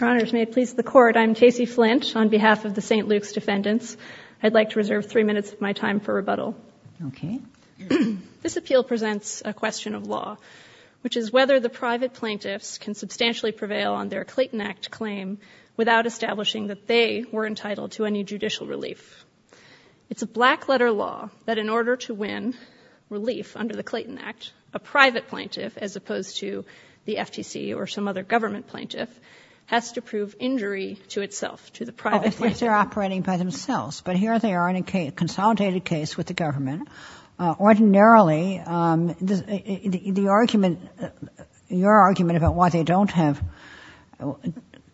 Your Honors, may it please the Court, I'm Casey Flint on behalf of the St. Luke's defendants. I'd like to reserve three minutes of my time for rebuttal. Okay. This appeal presents a question of law, which is whether the private plaintiffs can substantially prevail on their Clayton Act claim without establishing that they were entitled to any judicial relief. It's a black letter law that in order to win relief under the Clayton Act, a private plaintiff as opposed to the FTC or some other government plaintiff, has to prove injury to itself, to the private plaintiff. Oh, if they're operating by themselves, but here they are in a consolidated case with the government, ordinarily the argument, your argument about why they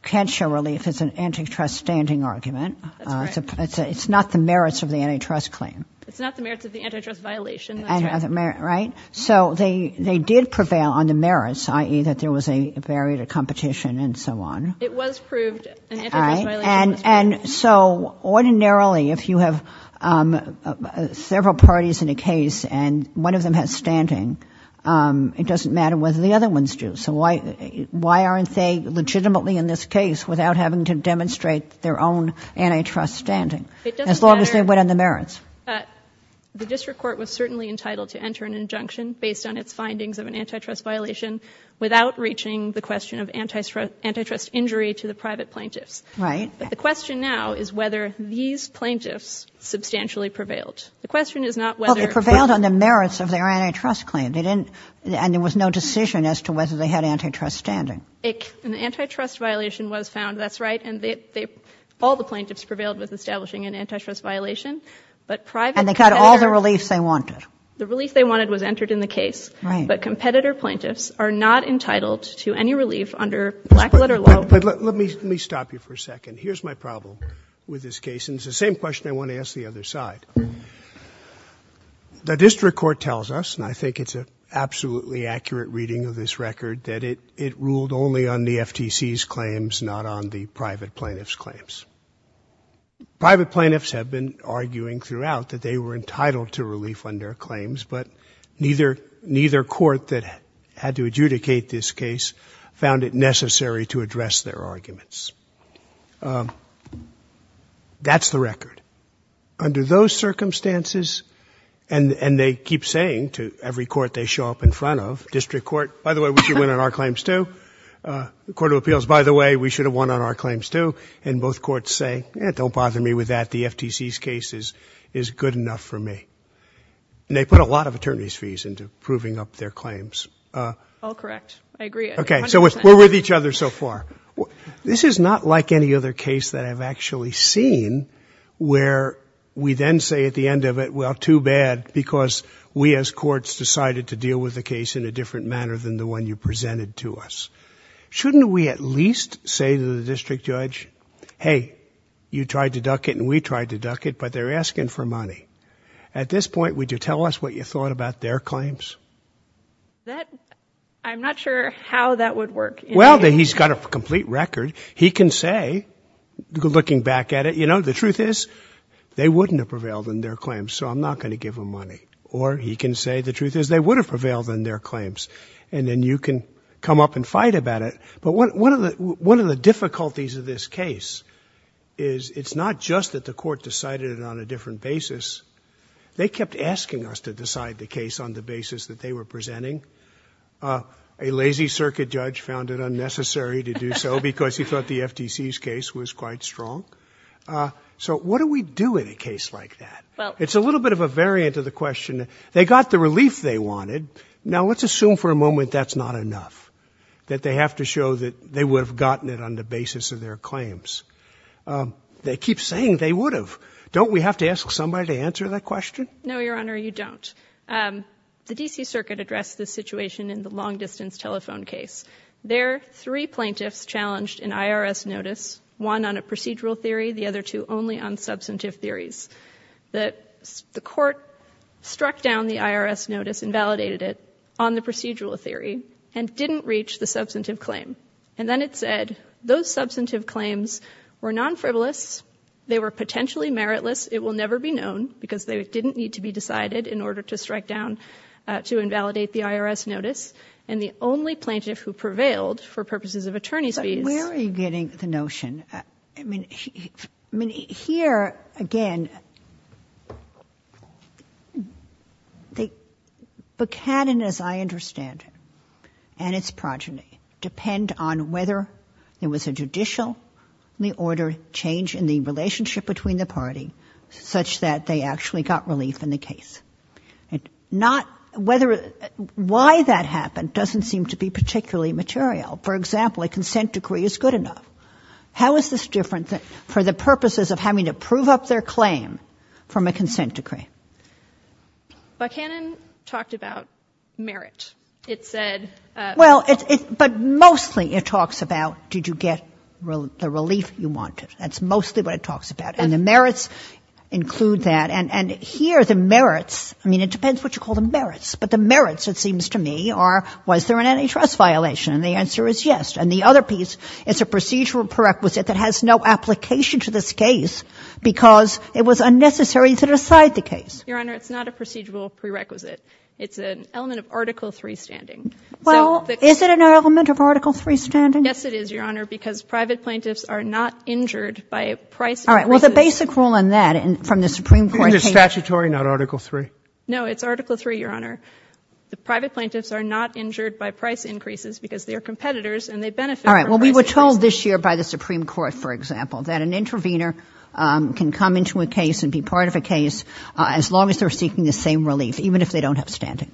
can't show relief is an antitrust standing argument. It's not the merits of the antitrust claim. It's not the merits of the antitrust violation, that's right. So they did prevail on the merits, i.e. that there was a barrier to competition and so on. It was proved an antitrust violation. And so ordinarily, if you have several parties in a case and one of them has standing, it doesn't matter whether the other ones do, so why aren't they legitimately in this case without having to demonstrate their own antitrust standing, as long as they went on the merits? The district court was certainly entitled to enter an injunction based on its findings of an antitrust violation without reaching the question of antitrust injury to the private plaintiffs. Right. But the question now is whether these plaintiffs substantially prevailed. The question is not whether... Well, they prevailed on the merits of their antitrust claim, and there was no decision as to whether they had antitrust standing. An antitrust violation was found, that's right, and all the plaintiffs prevailed with establishing an antitrust violation, but private... And they got all the reliefs they wanted. The relief they wanted was entered in the case, but competitor plaintiffs are not entitled to any relief under blackletter law... Let me stop you for a second. Here's my problem with this case, and it's the same question I want to ask the other side. The district court tells us, and I think it's an absolutely accurate reading of this record, Private plaintiffs have been arguing throughout that they were entitled to relief under claims, but neither court that had to adjudicate this case found it necessary to address their arguments. That's the record. Under those circumstances, and they keep saying to every court they show up in front of, district court, by the way, we should win on our claims too, court of appeals, by the way, we should say, don't bother me with that, the FTC's case is good enough for me, and they put a lot of attorney's fees into proving up their claims. All correct. I agree. Okay, so we're with each other so far. This is not like any other case that I've actually seen where we then say at the end of it, well, too bad, because we as courts decided to deal with the case in a different manner than the one you presented to us. Shouldn't we at least say to the district judge, hey, you tried to duck it and we tried to duck it, but they're asking for money. At this point, would you tell us what you thought about their claims? I'm not sure how that would work. Well, he's got a complete record. He can say, looking back at it, you know, the truth is they wouldn't have prevailed in their claims, so I'm not going to give them money. Or he can say the truth is they would have prevailed in their claims. And then you can come up and fight about it. But one of the difficulties of this case is it's not just that the court decided it on a different basis. They kept asking us to decide the case on the basis that they were presenting. A lazy circuit judge found it unnecessary to do so because he thought the FTC's case was quite strong. So what do we do in a case like that? It's a little bit of a variant of the question. They got the relief they wanted. Now, let's assume for a moment that's not enough, that they have to show that they would have gotten it on the basis of their claims. They keep saying they would have. Don't we have to ask somebody to answer that question? No, Your Honor, you don't. The D.C. Circuit addressed this situation in the long-distance telephone case. There, three plaintiffs challenged an IRS notice, one on a procedural theory, the other two only on substantive theories. The court struck down the IRS notice and validated it on the procedural theory and didn't reach the substantive claim. And then it said, those substantive claims were non-frivolous, they were potentially meritless, it will never be known because they didn't need to be decided in order to strike down, to invalidate the IRS notice. And the only plaintiff who prevailed for purposes of attorney's fees- Where are you getting the notion? I mean, here, again, Buchanan, as I understand it, and its progeny, depend on whether there was a judicial order change in the relationship between the party, such that they actually got relief in the case. Why that happened doesn't seem to be particularly material. For example, a consent decree is good enough. How is this different for the purposes of having to prove up their claim from a consent decree? Buchanan talked about merit. It said- Well, but mostly it talks about, did you get the relief you wanted? That's mostly what it talks about. And the merits include that. And here, the merits, I mean, it depends what you call the merits. But the merits, it seems to me, are, was there an antitrust violation? And the answer is yes. And the other piece, it's a procedural prerequisite that has no application to this case, because it was unnecessary to decide the case. Your Honor, it's not a procedural prerequisite. It's an element of Article III standing. Well, is it an element of Article III standing? Yes, it is, Your Honor, because private plaintiffs are not injured by price increases- All right, well, the basic rule in that, from the Supreme Court- Isn't it statutory, not Article III? No, it's Article III, Your Honor. The private plaintiffs are not injured by price increases, because they are competitors, and they benefit from price increases. All right. Well, we were told this year by the Supreme Court, for example, that an intervener can come into a case and be part of a case as long as they're seeking the same relief, even if they don't have standing.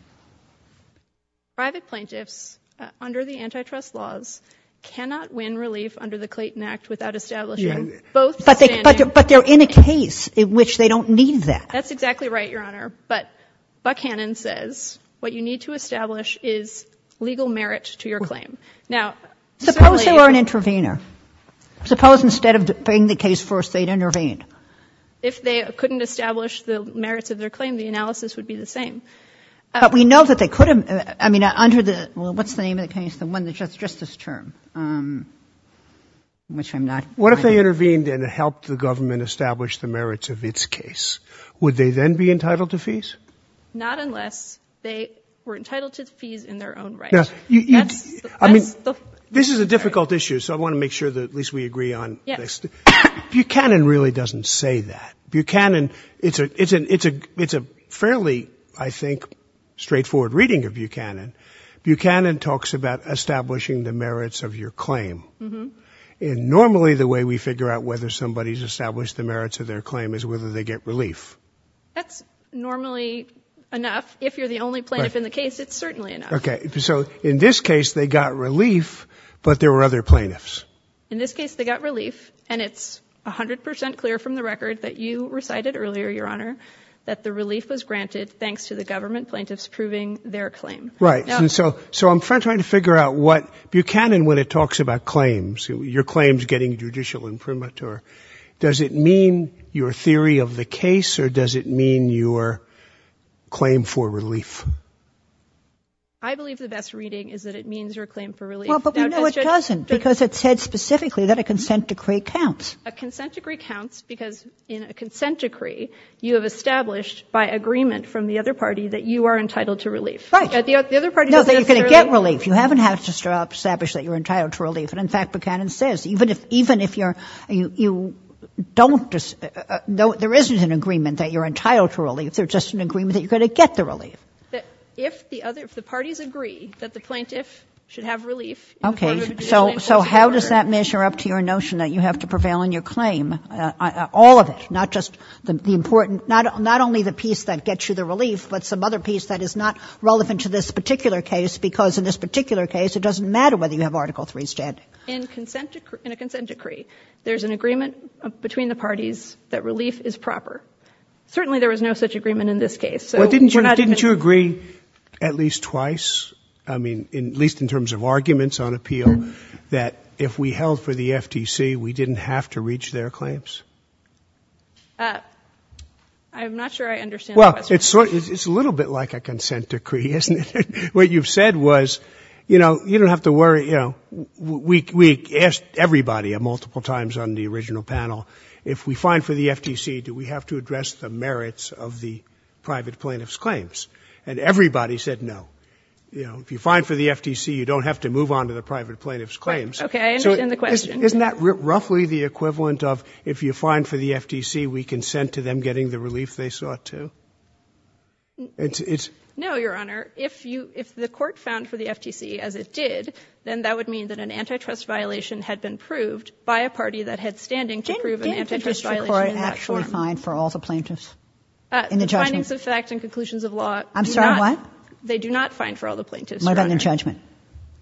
Private plaintiffs, under the antitrust laws, cannot win relief under the Clayton Act without establishing both standing- But they're in a case in which they don't need that. That's exactly right, Your Honor. But Buckhannon says what you need to establish is legal merit to your claim. Now, simply- Suppose they were an intervener. Suppose instead of bringing the case first, they'd intervene. If they couldn't establish the merits of their claim, the analysis would be the same. But we know that they could have- I mean, under the- well, what's the name of the case? The one that's just this term, which I'm not- What if they intervened and helped the government establish the merits of its case? Would they then be entitled to fees? Not unless they were entitled to fees in their own right. No, you- I mean, this is a difficult issue, so I want to make sure that at least we agree on this. Buckhannon really doesn't say that. Buckhannon- it's a fairly, I think, straightforward reading of Buckhannon. Buckhannon talks about establishing the merits of your claim, and normally the way we figure out whether somebody's established the merits of their claim is whether they get relief. That's normally enough. If you're the only plaintiff in the case, it's certainly enough. Okay. So in this case, they got relief, but there were other plaintiffs. In this case, they got relief, and it's 100 percent clear from the record that you recited earlier, Your Honor, that the relief was granted thanks to the government plaintiffs proving their claim. Right. And so I'm trying to figure out what- Buckhannon, when it talks about claims, your claims getting judicial imprimatur, does it mean your theory of the case, or does it mean your claim for relief? I believe the best reading is that it means your claim for relief. Well, but we know it doesn't, because it said specifically that a consent decree counts. A consent decree counts because in a consent decree, you have established by agreement from the other party that you are entitled to relief. Right. The other party doesn't necessarily- No, that you're going to get relief. You haven't had to establish that you're entitled to relief. And in fact, Buckhannon says, even if you're- there isn't an agreement that you're entitled to relief. There's just an agreement that you're going to get the relief. If the parties agree that the plaintiff should have relief- Okay. So how does that measure up to your notion that you have to prevail in your claim? All of it, not just the important- not only the piece that gets you the relief, but some other piece that is not relevant to this particular case, because in this particular case, it doesn't matter whether you have Article III standing. In a consent decree, there's an agreement between the parties that relief is proper. Certainly, there was no such agreement in this case. So we're not- Well, didn't you agree at least twice, I mean, at least in terms of arguments on appeal, that if we held for the FTC, we didn't have to reach their claims? I'm not sure I understand the question. Well, it's a little bit like a consent decree, isn't it? What you've said was, you know, you don't have to worry. You know, we asked everybody multiple times on the original panel, if we find for the merits of the private plaintiff's claims, and everybody said no. You know, if you find for the FTC, you don't have to move on to the private plaintiff's claims. Okay, I understand the question. Isn't that roughly the equivalent of, if you find for the FTC, we consent to them getting the relief they sought to? It's- No, Your Honor. If the court found for the FTC as it did, then that would mean that an antitrust violation The findings of fact and conclusions of law- I'm sorry, what? They do not find for all the plaintiffs, Your Honor. What about the judgment?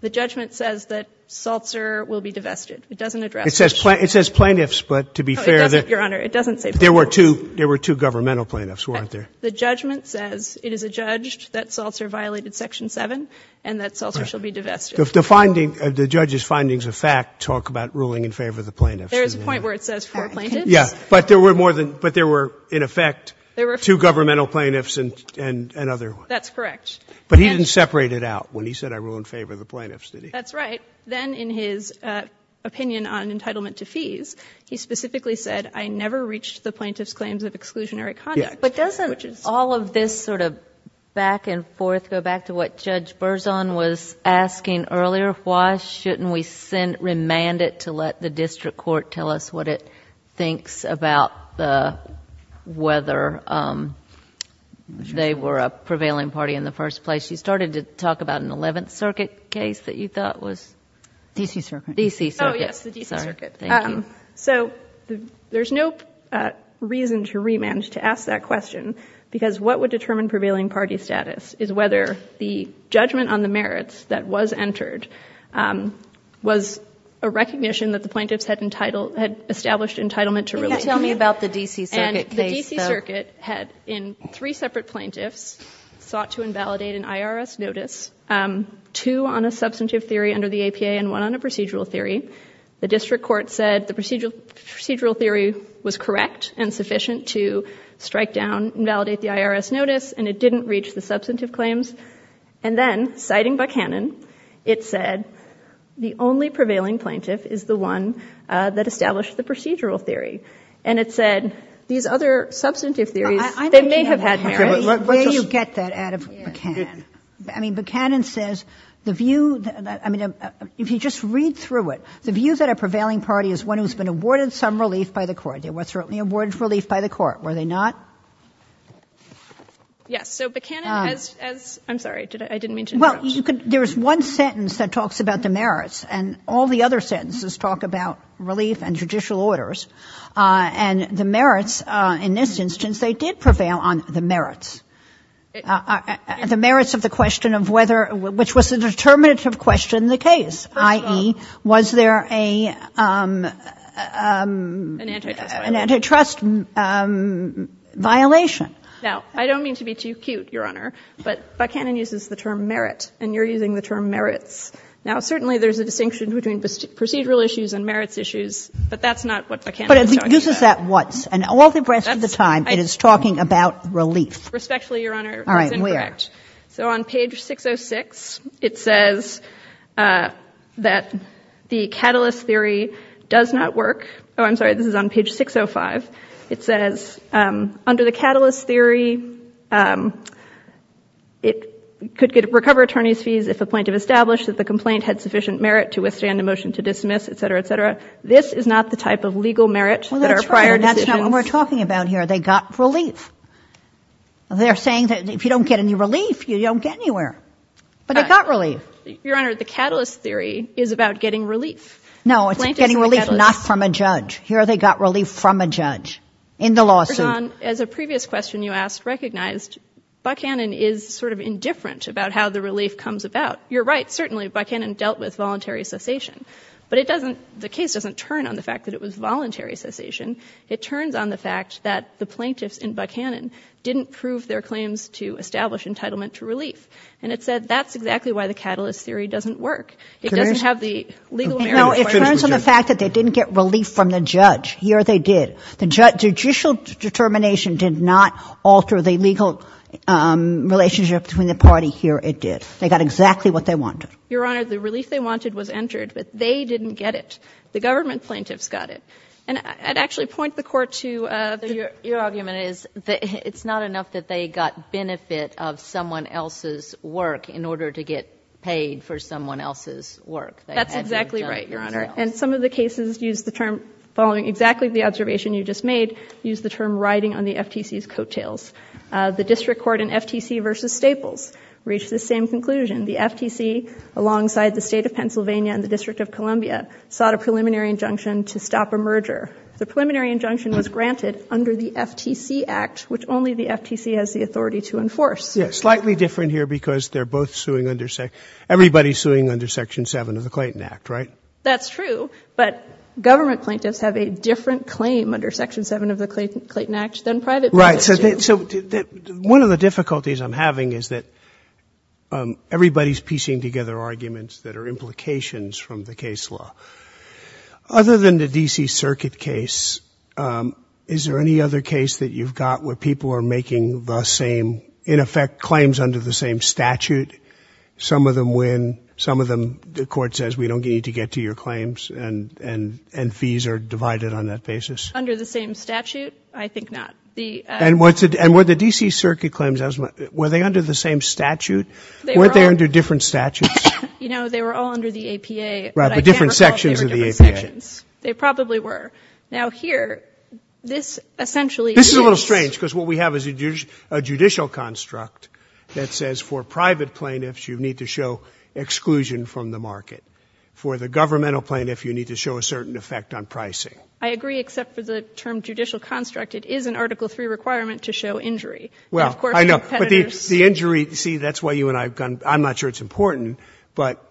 The judgment says that Seltzer will be divested. It doesn't address- It says plaintiffs, but to be fair- No, it doesn't, Your Honor. It doesn't say plaintiffs. There were two governmental plaintiffs, weren't there? The judgment says, it is adjudged that Seltzer violated Section 7 and that Seltzer shall be divested. The findings, the judge's findings of fact talk about ruling in favor of the plaintiffs. There is a point where it says four plaintiffs. Yeah, but there were in effect two governmental plaintiffs and another one. That's correct. But he didn't separate it out when he said, I rule in favor of the plaintiffs, did he? That's right. Then in his opinion on entitlement to fees, he specifically said, I never reached the plaintiffs' claims of exclusionary conduct. But doesn't all of this sort of back and forth go back to what Judge Berzon was asking earlier, why shouldn't we remand it to let the district court tell us what it thinks about whether they were a prevailing party in the first place? You started to talk about an 11th Circuit case that you thought was- D.C. Circuit. D.C. Circuit. Oh, yes. The D.C. Circuit. Thank you. So there's no reason to remand, to ask that question, because what would determine was a recognition that the plaintiffs had established entitlement to relief. Can you tell me about the D.C. Circuit case, though? And the D.C. Circuit had, in three separate plaintiffs, sought to invalidate an IRS notice, two on a substantive theory under the APA and one on a procedural theory. The district court said the procedural theory was correct and sufficient to strike down and validate the IRS notice, and it didn't reach the substantive claims. And then, citing Buchanan, it said the only prevailing plaintiff is the one that established the procedural theory. And it said these other substantive theories, they may have had merit. Where do you get that out of Buchanan? I mean, Buchanan says the view, I mean, if you just read through it, the view that a prevailing party is one who's been awarded some relief by the court. They were certainly awarded relief by the court, were they not? Yes, so Buchanan has, I'm sorry, I didn't mean to interrupt. Well, you could, there's one sentence that talks about the merits, and all the other sentences talk about relief and judicial orders. And the merits, in this instance, they did prevail on the merits. The merits of the question of whether, which was a determinative question in the case, i.e., was there a, an antitrust violation. Now, I don't mean to be too cute, Your Honor, but Buchanan uses the term merit, and you're using the term merits. Now, certainly there's a distinction between procedural issues and merits issues, but that's not what Buchanan is talking about. But it uses that once, and all the rest of the time it is talking about relief. Respectfully, Your Honor, that's incorrect. All right, where? So on page 606, it says that the catalyst theory does not work. Oh, I'm sorry, this is on page 605. It says, under the catalyst theory, it could get, recover attorney's fees if a plaintiff established that the complaint had sufficient merit to withstand a motion to dismiss, et cetera, et cetera. This is not the type of legal merit that our prior decisions. Well, that's not what we're talking about here. They got relief. They're saying that if you don't get any relief, you don't get anywhere. But they got relief. Your Honor, the catalyst theory is about getting relief. No, it's getting relief not from a judge. Here they got relief from a judge in the lawsuit. Your Honor, as a previous question you asked recognized, Buchanan is sort of indifferent about how the relief comes about. You're right, certainly Buchanan dealt with voluntary cessation. But it doesn't, the case doesn't turn on the fact that it was voluntary cessation. It turns on the fact that the plaintiffs in Buchanan didn't prove their claims to establish entitlement to relief. And it said that's exactly why the catalyst theory doesn't work. It doesn't have the legal merit. No, it turns on the fact that they didn't get relief from the judge. Here they did. The judicial determination did not alter the legal relationship between the party. Here it did. They got exactly what they wanted. Your Honor, the relief they wanted was entered, but they didn't get it. The government plaintiffs got it. And I'd actually point the Court to... Your argument is that it's not enough that they got benefit of someone else's work in order to get paid for someone else's work. That's exactly right, Your Honor. And some of the cases use the term, following exactly the observation you just made, use the term riding on the FTC's coattails. The District Court in FTC v. Staples reached the same conclusion. The FTC, alongside the State of Pennsylvania and the District of Columbia, sought a preliminary injunction to stop a merger. The preliminary injunction was granted under the FTC Act, which only the FTC has the authority to enforce. Yes, slightly different here because they're both suing under... Everybody's suing under Section 7 of the Clayton Act, right? That's true, but government plaintiffs have a different claim under Section 7 of the Clayton Act than private plaintiffs do. Right, so one of the difficulties I'm having is that everybody's piecing together arguments that are implications from the case law. Other than the D.C. Circuit case, is there any other case that you've got where people are making the same, in effect, claims under the same statute? Some of them win, some of them the court says, we don't need to get to your claims, and fees are divided on that basis? Under the same statute? I think not. And were the D.C. Circuit claims, were they under the same statute? Weren't they under different statutes? You know, they were all under the APA. Right, but different sections of the APA. They probably were. Now here, this essentially... This is a little strange because what we have is a judicial construct that says for private plaintiffs, you need to show exclusion from the market. For the governmental plaintiff, you need to show a certain effect on pricing. I agree, except for the term judicial construct. It is an Article 3 requirement to show injury. Well, I know, but the injury, see, that's why you and I... I'm not sure it's important, but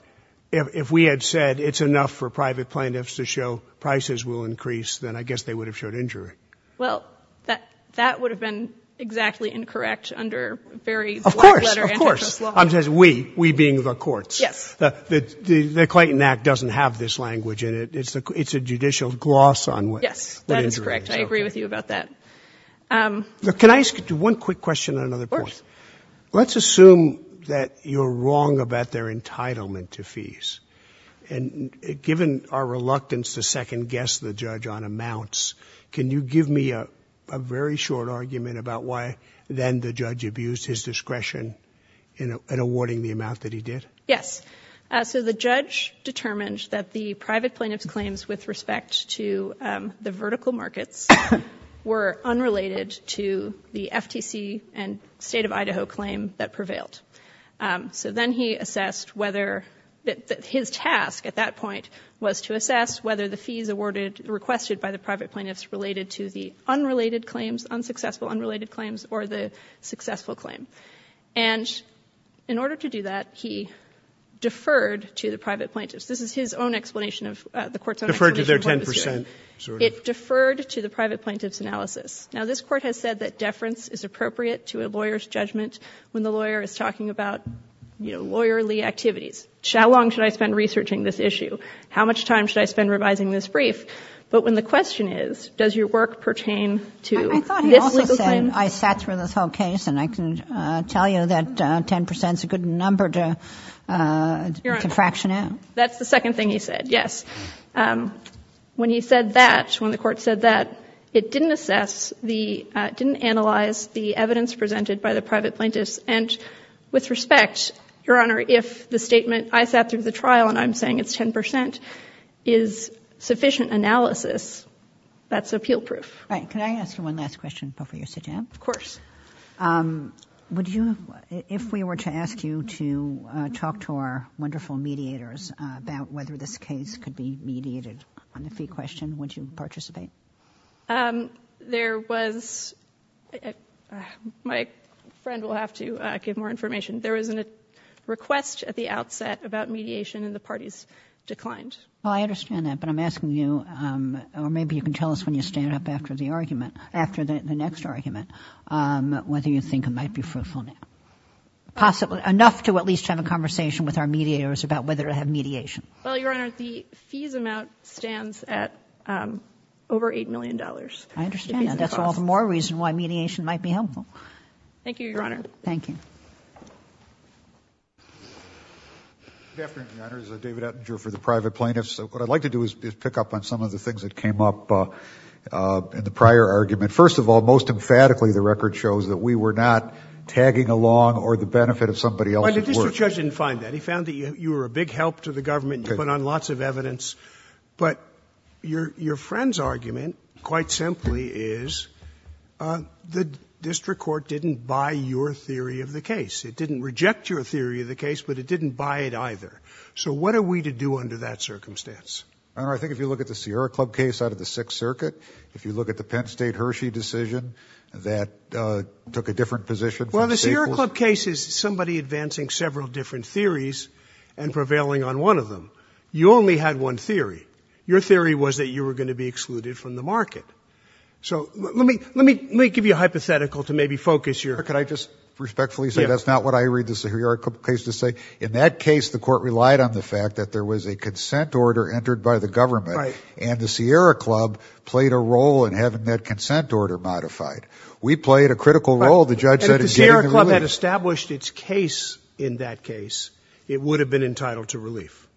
if we had said it's enough for private plaintiffs to show prices will increase, then I guess they would have showed injury. Well, that would have been exactly incorrect under very black-letter antitrust law. Of course, of course. It says we, we being the courts. The Clayton Act doesn't have this language in it. It's a judicial gloss on what injury is. Yes, that is correct. I agree with you about that. Can I ask you one quick question on another point? Of course. Let's assume that you're wrong about their entitlement to fees. And given our reluctance to second-guess the judge on amounts, can you give me a very short argument about why then the judge abused his discretion in awarding the amount that he did? Yes. So the judge determined that the private plaintiff's claims with respect to the vertical markets were unrelated to the FTC and State of Idaho claim that prevailed. So then he assessed whether, his task at that point was to assess whether the fees awarded, requested by the private plaintiffs related to the unrelated claims, unsuccessful unrelated claims, or the successful claim. And in order to do that, he deferred to the private plaintiffs. This is his own explanation of, the court's own explanation. Deferred to their 10%, sort of. It deferred to the private plaintiff's analysis. Now this court has said that deference is appropriate to a lawyer's judgment when the lawyer is talking about lawyerly activities. How long should I spend researching this issue? How much time should I spend revising this brief? But when the question is, does your work pertain to this legal claim? I thought he also said, I sat through this whole case and I can tell you that 10% is a good number to fraction out. That's the second thing he said, yes. When he said that, when the court said that, it didn't assess, it didn't analyze the evidence presented by the private plaintiffs. And with respect, Your Honor, if the statement, I sat through the trial and I'm saying it's 10%, is sufficient analysis, that's appeal proof. Right. Can I ask you one last question before you sit down? Of course. Would you, if we were to ask you to talk to our wonderful mediators about whether this case could be mediated on the fee question, would you participate? There was, my friend will have to give more information, there was a request at the outset about mediation and the parties declined. Well, I understand that, but I'm asking you, or maybe you can tell us when you stand up after the argument, after the next argument, whether you think it might be fruitful. Possibly, enough to at least have a conversation with our mediators about whether to have mediation. Well, Your Honor, the fees amount stands at over $8 million. I understand, and that's all the more reason why mediation might be helpful. Thank you, Your Honor. Thank you. Good afternoon, Your Honor, this is David Ettinger for the private plaintiffs. What I'd like to do is pick up on some of the things that came up in the prior argument. First of all, most emphatically, the record shows that we were not tagging along or the benefit of somebody else. Well, the district judge didn't find that. He found that you were a big help to the government and you put on lots of evidence. But your friend's argument, quite simply, is the district court didn't buy your theory of the case. It didn't reject your theory of the case, but it didn't buy it either. So what are we to do under that circumstance? Your Honor, I think if you look at the Sierra Club case out of the Sixth Circuit, if you look at the Penn State Hershey decision, that took a different position. Well, the Sierra Club case is somebody advancing several different theories and prevailing on one of them. You only had one theory. Your theory was that you were going to be excluded from the market. So let me give you a hypothetical to maybe focus your... Your Honor, could I just respectfully say that's not what I read the Sierra Club case to say? In that case, the court relied on the fact that there was a consent order entered by the government and the Sierra Club played a role in having that consent order modified. We played a critical role. And if the Sierra Club had established its case in that case, it would have been entitled to relief.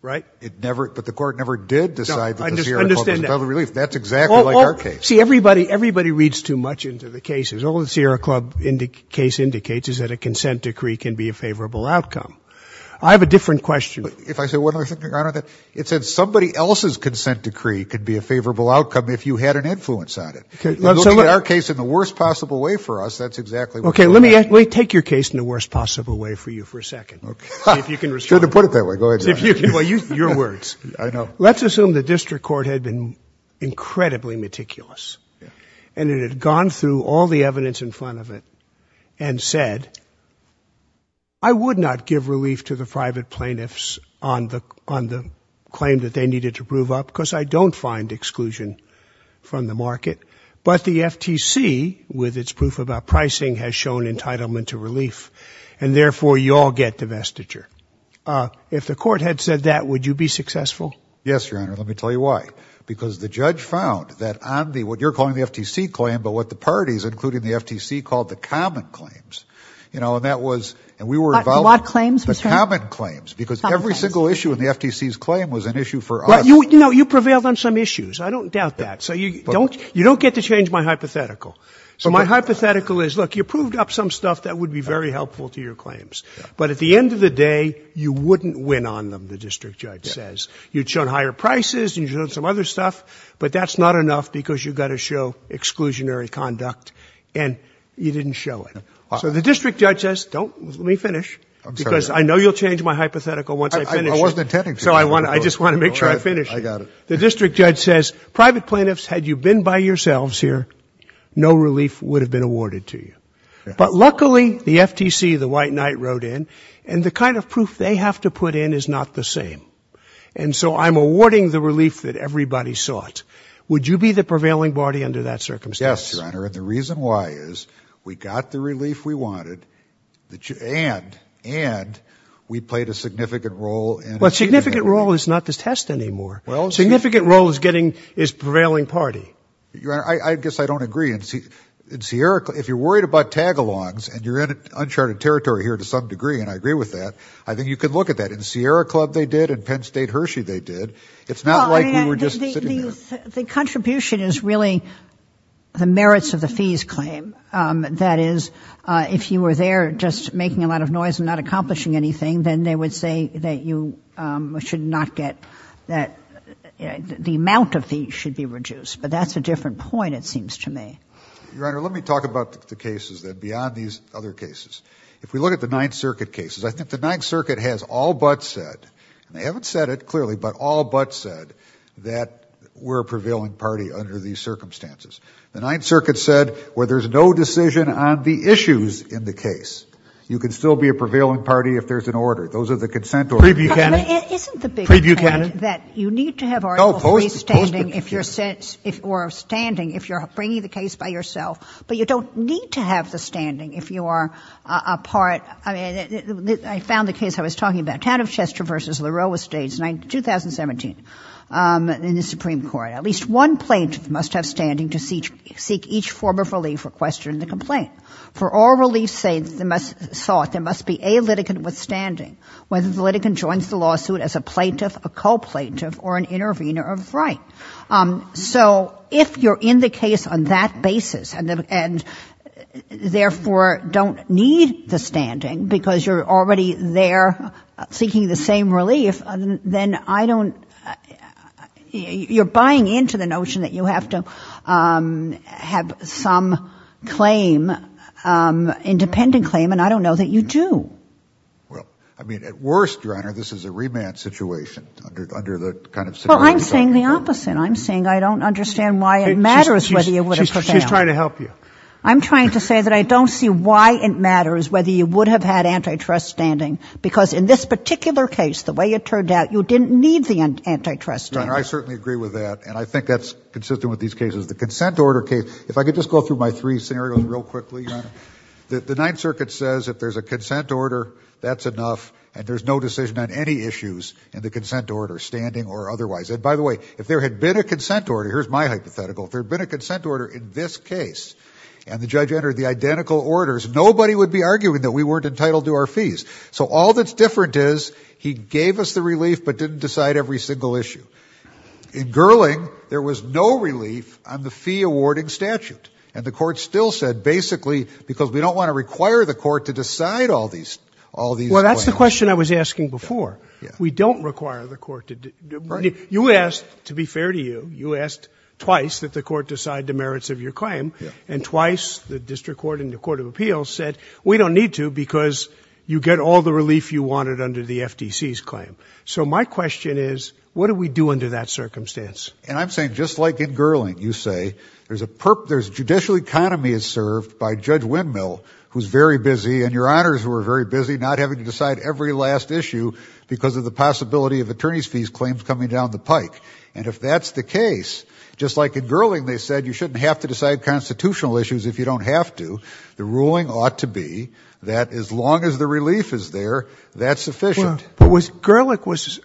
Right? But the court never did decide that the Sierra Club was entitled to relief. That's exactly like our case. See, everybody reads too much into the cases. All the Sierra Club case indicates is that a consent decree can be a favorable outcome. I have a different question. If I say one other thing, Your Honor, it said somebody else's consent decree could be a favorable outcome if you had an influence on it. You're looking at our case in the worst possible way for us. That's exactly what you're asking. Okay. Let me take your case in the worst possible way for you for a second. If you can respond. It's good to put it that way. Go ahead, Your Honor. Your words. I know. Let's assume the district court had been incredibly meticulous and it had gone through all the evidence in front of it and said, I would not give relief to the private plaintiffs on the claim that they needed to prove up because I don't find exclusion from the claim. But the FTC, with its proof about pricing, has shown entitlement to relief. And therefore, you all get divestiture. If the court had said that, would you be successful? Yes, Your Honor. Let me tell you why. Because the judge found that on the, what you're calling the FTC claim, but what the parties, including the FTC, called the common claims, you know, and that was, and we were involved. What claims? The common claims. Because every single issue in the FTC's claim was an issue for us. No, you prevailed on some issues. I don't doubt that. So you don't, you don't get to change my hypothetical. So my hypothetical is, look, you proved up some stuff that would be very helpful to your claims. But at the end of the day, you wouldn't win on them, the district judge says. You'd shown higher prices, you'd shown some other stuff, but that's not enough because you've got to show exclusionary conduct and you didn't show it. So the district judge says, don't, let me finish, because I know you'll change my hypothetical once I finish it. I wasn't intending to. So I just want to make sure I finish it. I got it. The district judge says, private plaintiffs, had you been by yourselves here, no relief would have been awarded to you. But luckily, the FTC, the white knight, wrote in, and the kind of proof they have to put in is not the same. And so I'm awarding the relief that everybody sought. Would you be the prevailing party under that circumstance? Yes, Your Honor, and the reason why is, we got the relief we wanted, and we played a significant role in achieving that. Well, significant role is not the test anymore. Significant role is getting, is prevailing party. Your Honor, I guess I don't agree. In Sierra, if you're worried about tag-alongs, and you're in uncharted territory here to some degree, and I agree with that, I think you can look at that. In Sierra Club, they did, in Penn State Hershey, they did. It's not like we were just sitting there. The contribution is really the merits of the fees claim, that is, if you were there just making a lot of noise and not accomplishing anything, then they would say that you should not get, that the amount of fees should be reduced. But that's a different point, it seems to me. Your Honor, let me talk about the cases, then, beyond these other cases. If we look at the Ninth Circuit cases, I think the Ninth Circuit has all but said, and they haven't said it clearly, but all but said that we're a prevailing party under these circumstances. The Ninth Circuit said, where there's no decision on the issues in the case, you can still be a member of the Supreme Court. Those are the consent orders. Preview candidate. Preview candidate. Isn't the big point that you need to have article three standing if you're standing, if you're bringing the case by yourself, but you don't need to have the standing if you are a part, I mean, I found the case I was talking about. Town of Chester v. LaRoe was staged in 2017 in the Supreme Court. At least one plaintiff must have standing to seek each form of relief requested in the complaint. For all relief sought, there must be a litigant with standing, whether the litigant joins the lawsuit as a plaintiff, a co-plaintiff, or an intervener of right. So if you're in the case on that basis, and therefore don't need the standing because you're already there seeking the same relief, then I don't, you're buying into the notion that you have to have some claim, independent claim, and I don't know that you do. Well, I mean, at worst, Your Honor, this is a remand situation under the kind of Well, I'm saying the opposite. I'm saying I don't understand why it matters whether you would have prevailed. She's trying to help you. I'm trying to say that I don't see why it matters whether you would have had antitrust standing because in this particular case, the way it turned out, you didn't need the antitrust standing. Your Honor, I certainly agree with that, and I think that's consistent with these cases. The consent order case, if I could just go through my three scenarios real quickly, Your Honor, the Ninth Circuit says if there's a consent order, that's enough, and there's no decision on any issues in the consent order, standing or otherwise. And by the way, if there had been a consent order, here's my hypothetical, if there had been a consent order in this case, and the judge entered the identical orders, nobody would be arguing that we weren't entitled to our fees. So all that's different is he gave us the relief but didn't decide every single issue. In Gerling, there was no relief on the fee awarding statute. And the court still said basically because we don't want to require the court to decide all these claims. Well, that's the question I was asking before. We don't require the court to... You asked, to be fair to you, you asked twice that the court decide the merits of your claim, and twice the District Court and the Court of Appeals said we don't need to because you get all the relief you wanted under the FDC's claim. So my question is, what do we do under that circumstance? And I'm saying, just like in Gerling, you say, there's a... Judicial economy is served by Judge Windmill, who's very busy, and your honors who are very busy not having to decide every last issue because of the possibility of attorney's fees claims coming down the pike. And if that's the case, just like in Gerling they said you shouldn't have to decide constitutional issues if you don't have to, the ruling ought to be that as long as the relief is there, that's sufficient. But was Gerling was...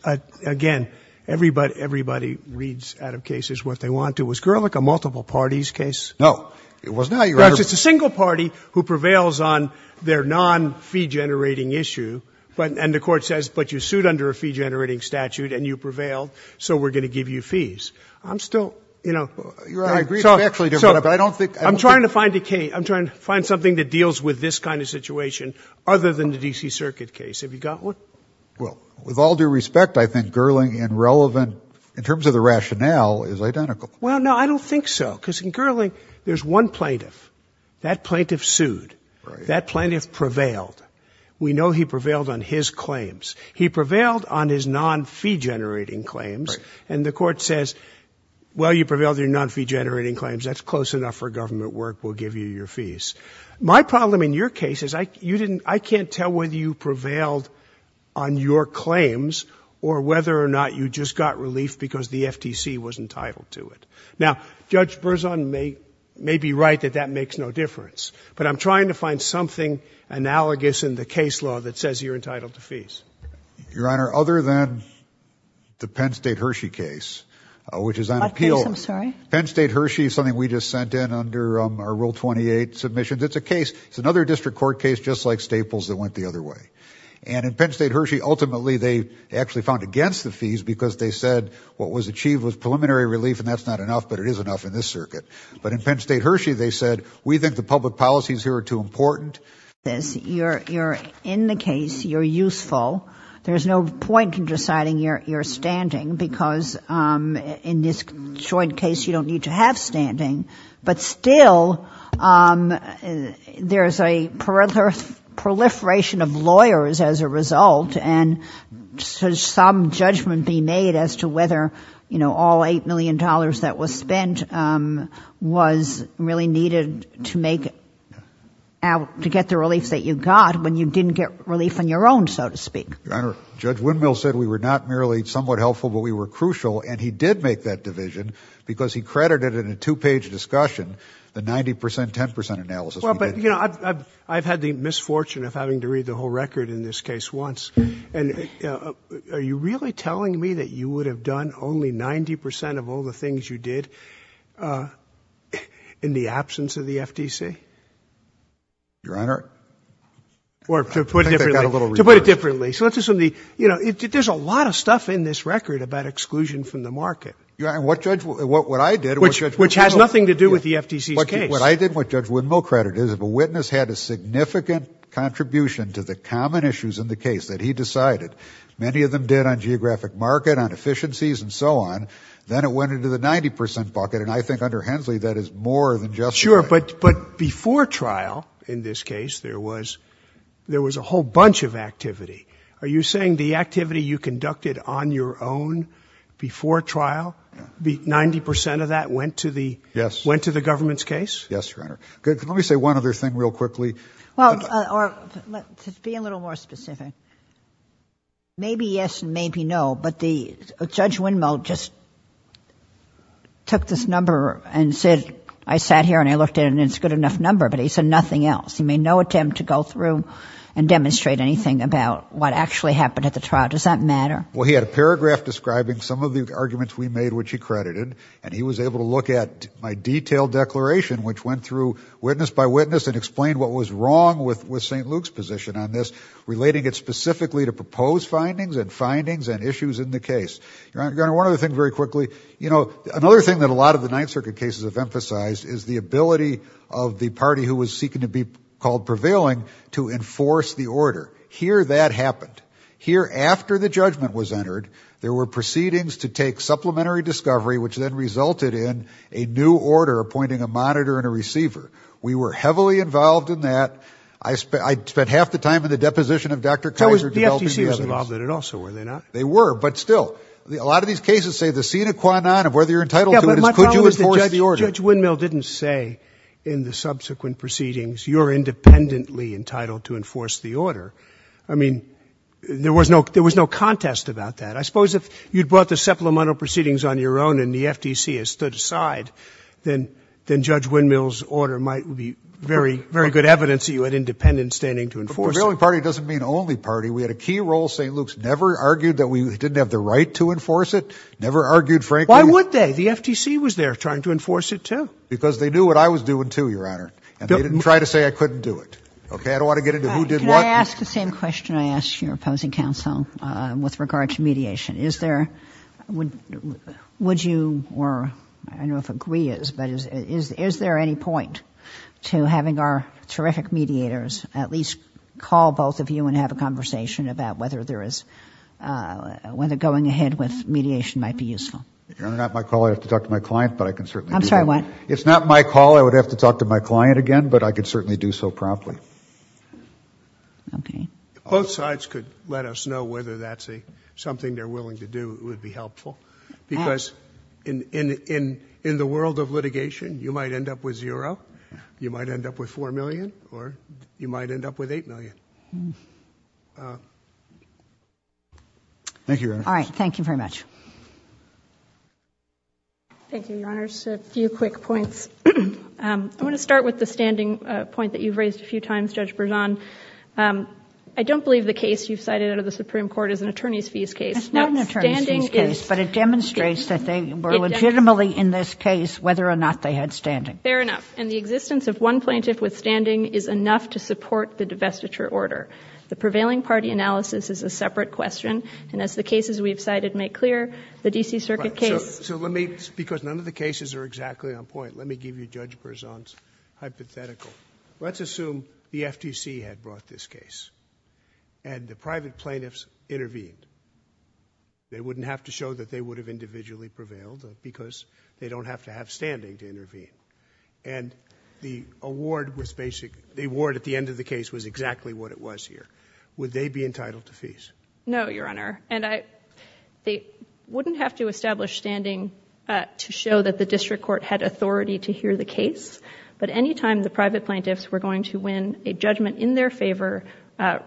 Again, everybody reads out of cases what they want to. Was Gerling a multiple parties case? No, it was not. It's a single party who prevails on their non-fee generating issue, and the court says, but you sued under a fee generating statute and you prevailed, so we're going to give you fees. I'm still, you know... I agree, but I don't think... I'm trying to find a case, I'm trying to find something that deals with this kind of situation other than the D.C. Circuit case. Have you got one? Well, with all due respect, I think Gerling in relevant, in terms of the rationale, is identical. Well, no, I don't think so, because in Gerling there's one plaintiff. That plaintiff sued. That plaintiff prevailed. We know he prevailed on his claims. He prevailed on his non-fee generating claims, and the court says, well, you prevailed on your non-fee generating claims, that's close enough for government work, we'll give you your fees. My problem in your case is I can't tell whether you prevailed on your claims or whether or not you just got relief because the FTC was entitled to it. Now, Judge Berzon may be right that that makes no difference, but I'm trying to find something analogous in the case law that says you're entitled to fees. Your Honor, other than the Penn State Hershey case, which is an appeal... It's a case. It's another district court case just like Staples that went the other way. And in Penn State Hershey, ultimately, they actually found against the fees because they said what was achieved was preliminary relief, and that's not enough, but it is enough in this circuit. But in Penn State Hershey they said we think the public policies here are too important. You're in the case. You're useful. There's no point in deciding your standing because in this joint case you don't need to have standing. But still, there's a proliferation of lawyers as a result, and should some judgment be made as to whether all $8 million that was spent was really needed to make... to get the relief that you got when you didn't get relief on your own, so to speak. Your Honor, Judge Windmill said we were not merely somewhat helpful, but we were crucial, and he did make that division because he credited in a two-page discussion the 90%, 10% analysis. Well, but, you know, I've had the misfortune of having to read the whole record in this case once, and are you really telling me that you would have done only 90% of all the things you did in the absence of the FTC? Your Honor? Or to put it differently. So let's assume the... You know, there's a lot of stuff in this record about exclusion from the market. Your Honor, what Judge... what I did... Which has nothing to do with the FTC's case. What I did, what Judge Windmill credited, is if a witness had a significant contribution to the common issues in the case that he decided, many of them did on geographic market, on efficiencies, and so on, then it went into the 90% bucket, and I think under Hensley that is more than justified. Sure, but before trial, in this case, there was a whole bunch of activity. Are you saying the activity you conducted on your own before trial, 90% of that went to the government's case? Yes, Your Honor. Let me say one other thing real quickly. To be a little more specific. Maybe yes, maybe no, but Judge Windmill just took this number and said, I sat here and I looked at it and it's a good enough number, but he said nothing else. He made no attempt to go through and demonstrate anything about what actually happened at the trial. Does that matter? Well, he had a paragraph describing some of the arguments we made, which he credited, and he was able to look at my detailed declaration, which went through witness by witness and explained what was wrong with St. Luke's position on this, relating it specifically to proposed findings and findings and issues in the case. Your Honor, one other thing very quickly. You know, another thing that a lot of the Ninth Circuit cases have emphasized is the ability of the party who was seeking to be called prevailing to enforce the order. Here, that happened. Here, after the judgment was entered, there were proceedings to take supplementary discovery which then resulted in a new order appointing a monitor and a receiver. We were heavily involved in that. I spent half the time in the deposition of Dr. Kaiser developing the evidence. The FTC was involved in it also, were they not? They were, but still. A lot of these cases say the sine qua non of whether you're entitled to it is could you enforce the order. But Judge Windmill didn't say in the subsequent proceedings, you're independently entitled to enforce the order. I mean, there was no contest about that. I suppose if you'd brought the supplemental proceedings on your own and the FTC had stood aside, then Judge Windmill's order might be very good evidence that you had independent standing to enforce it. But prevailing party doesn't mean only party. We had a key role. St. Luke's never argued that we didn't have the right to enforce it. Why would they? The FTC was there trying to enforce it too. Because they knew what I was doing too, Your Honor. And they didn't try to say I couldn't do it. I don't want to get into who did what. Can I ask the same question I asked your opposing counsel with regard to mediation? Is there, would you, or I don't know if agree is, but is there any point to having our terrific mediators at least call both of you and have a conversation about whether there is whether going ahead with mediation might be useful? If you're not my call, I'd have to talk to my client. I'm sorry, what? If it's not my call, I'd have to talk to my client again, but I could certainly do so promptly. Both sides could let us know whether that's something they're willing to do. It would be helpful. Because in the world of litigation, you might end up with zero. You might end up with four million. Or you might end up with eight million. All right. Thank you very much. Thank you, Your Honors. A few quick points. I want to start with the standing point that you've raised a few times, Judge Berzon. I don't believe the case you've cited out of the Supreme Court is an attorney's fees case. It's not an attorney's fees case, but it demonstrates that they were legitimately in this case whether or not they had standing. Fair enough. And the existence of one plaintiff with standing is enough to support the divestiture order. The prevailing party analysis is a separate question. And as the cases we've cited make clear, the D.C. Circuit case... Because none of the cases are exactly on point, let me give you Judge Berzon's hypothetical. Let's assume the FTC had brought this case and the private plaintiffs intervened. They wouldn't have to show that they would have individually prevailed because they don't have to have standing to intervene. And the award at the end of the case was exactly what it was here. Would they be entitled to fees? No, Your Honor. They wouldn't have to establish standing to show that the district court had authority to hear the case, but any time the private plaintiffs were going to win a judgment in their favor,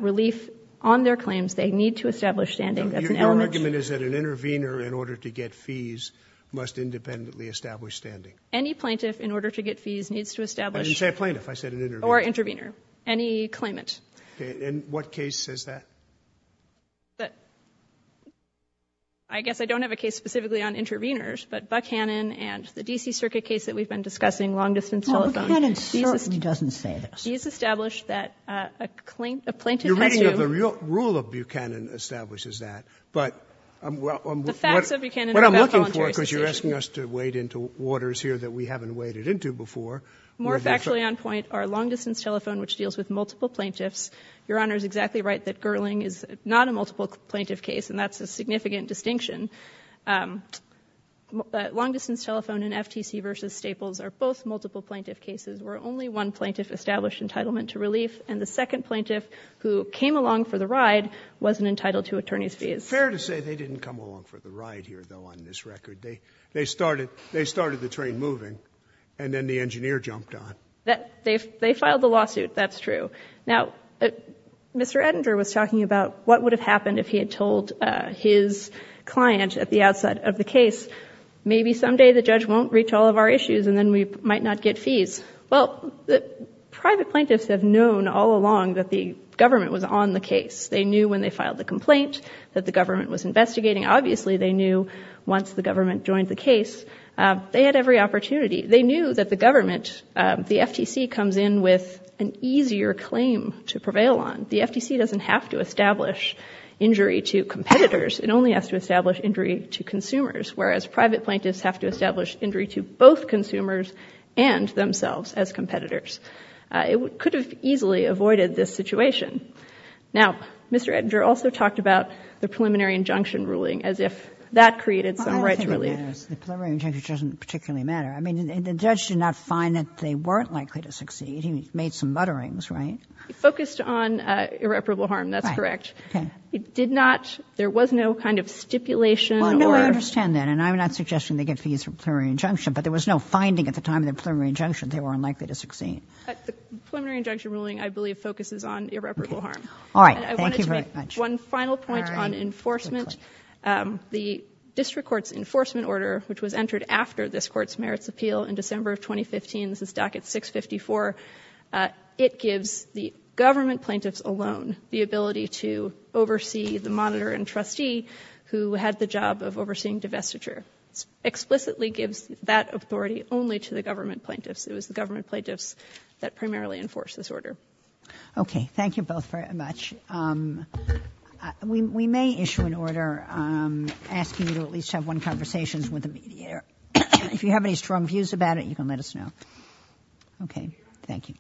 relief on their claims, they need to establish standing. Your argument is that an intervener in order to get fees must independently establish standing. Any plaintiff in order to get fees needs to establish... I didn't say plaintiff. I said an intervener. Or intervener. Any claimant. And what case is that? I guess I don't have a case specifically on interveners, but Buchanan and the D.C. Circuit case that we've been discussing, long-distance telephone. Buchanan certainly doesn't say this. He's established that a plaintiff has to... You're reading of the rule of Buchanan establishes that, but... The facts of Buchanan are a voluntary situation. What I'm looking for, because you're asking us to wade into waters here that we haven't waded into before... More factually on point are long-distance telephone, which deals with multiple plaintiffs. Your Honor is exactly right that Gerling is not a multiple plaintiff case, and that's a significant distinction. Long-distance telephone and FTC versus Staples are both multiple plaintiff cases, where only one plaintiff established entitlement to relief, and the second plaintiff who came along for the ride wasn't entitled to attorney's fees. It's fair to say they didn't come along for the ride here though on this record. They started the train moving and then the engineer jumped on. They filed the lawsuit. That's true. Now Mr. Edinger was talking about what would have happened if he had told his client at the outside of the case maybe someday the judge won't reach all of our issues and then we might not get fees. Well, the private plaintiffs have known all along that the government was on the case. They knew when they filed the complaint that the government was investigating. Obviously they knew once the government joined the case they had every opportunity. They knew that the government, the FTC comes in with an easier claim to prevail on. The FTC doesn't have to establish injury to competitors. It only has to establish injury to consumers, whereas private plaintiffs have to establish injury to both consumers and themselves as competitors. It could have easily avoided this situation. Now Mr. Edinger also talked about the preliminary injunction ruling as if that preliminary injunction doesn't particularly matter. The judge did not find that they weren't likely to succeed. He made some mutterings, right? He focused on irreparable harm, that's correct. He did not, there was no kind of stipulation. No, I understand that and I'm not suggesting they get fees for a preliminary injunction but there was no finding at the time of the preliminary injunction that they were unlikely to succeed. The preliminary injunction ruling, I believe, focuses Thank you very much. I wanted to make one final point on enforcement. The order that was entered after this court's merits appeal in December of 2015, this is docket 654, it gives the government plaintiffs alone the ability to oversee the monitor and trustee who had the job of overseeing divestiture. It explicitly gives that authority only to the government plaintiffs. It was the government plaintiffs that primarily enforced this order. Okay, thank you both very much. We may issue an order asking you to at least have one conversation with the mediator. If you have any strong views about it you can let us know. Okay, thank you. Thank you.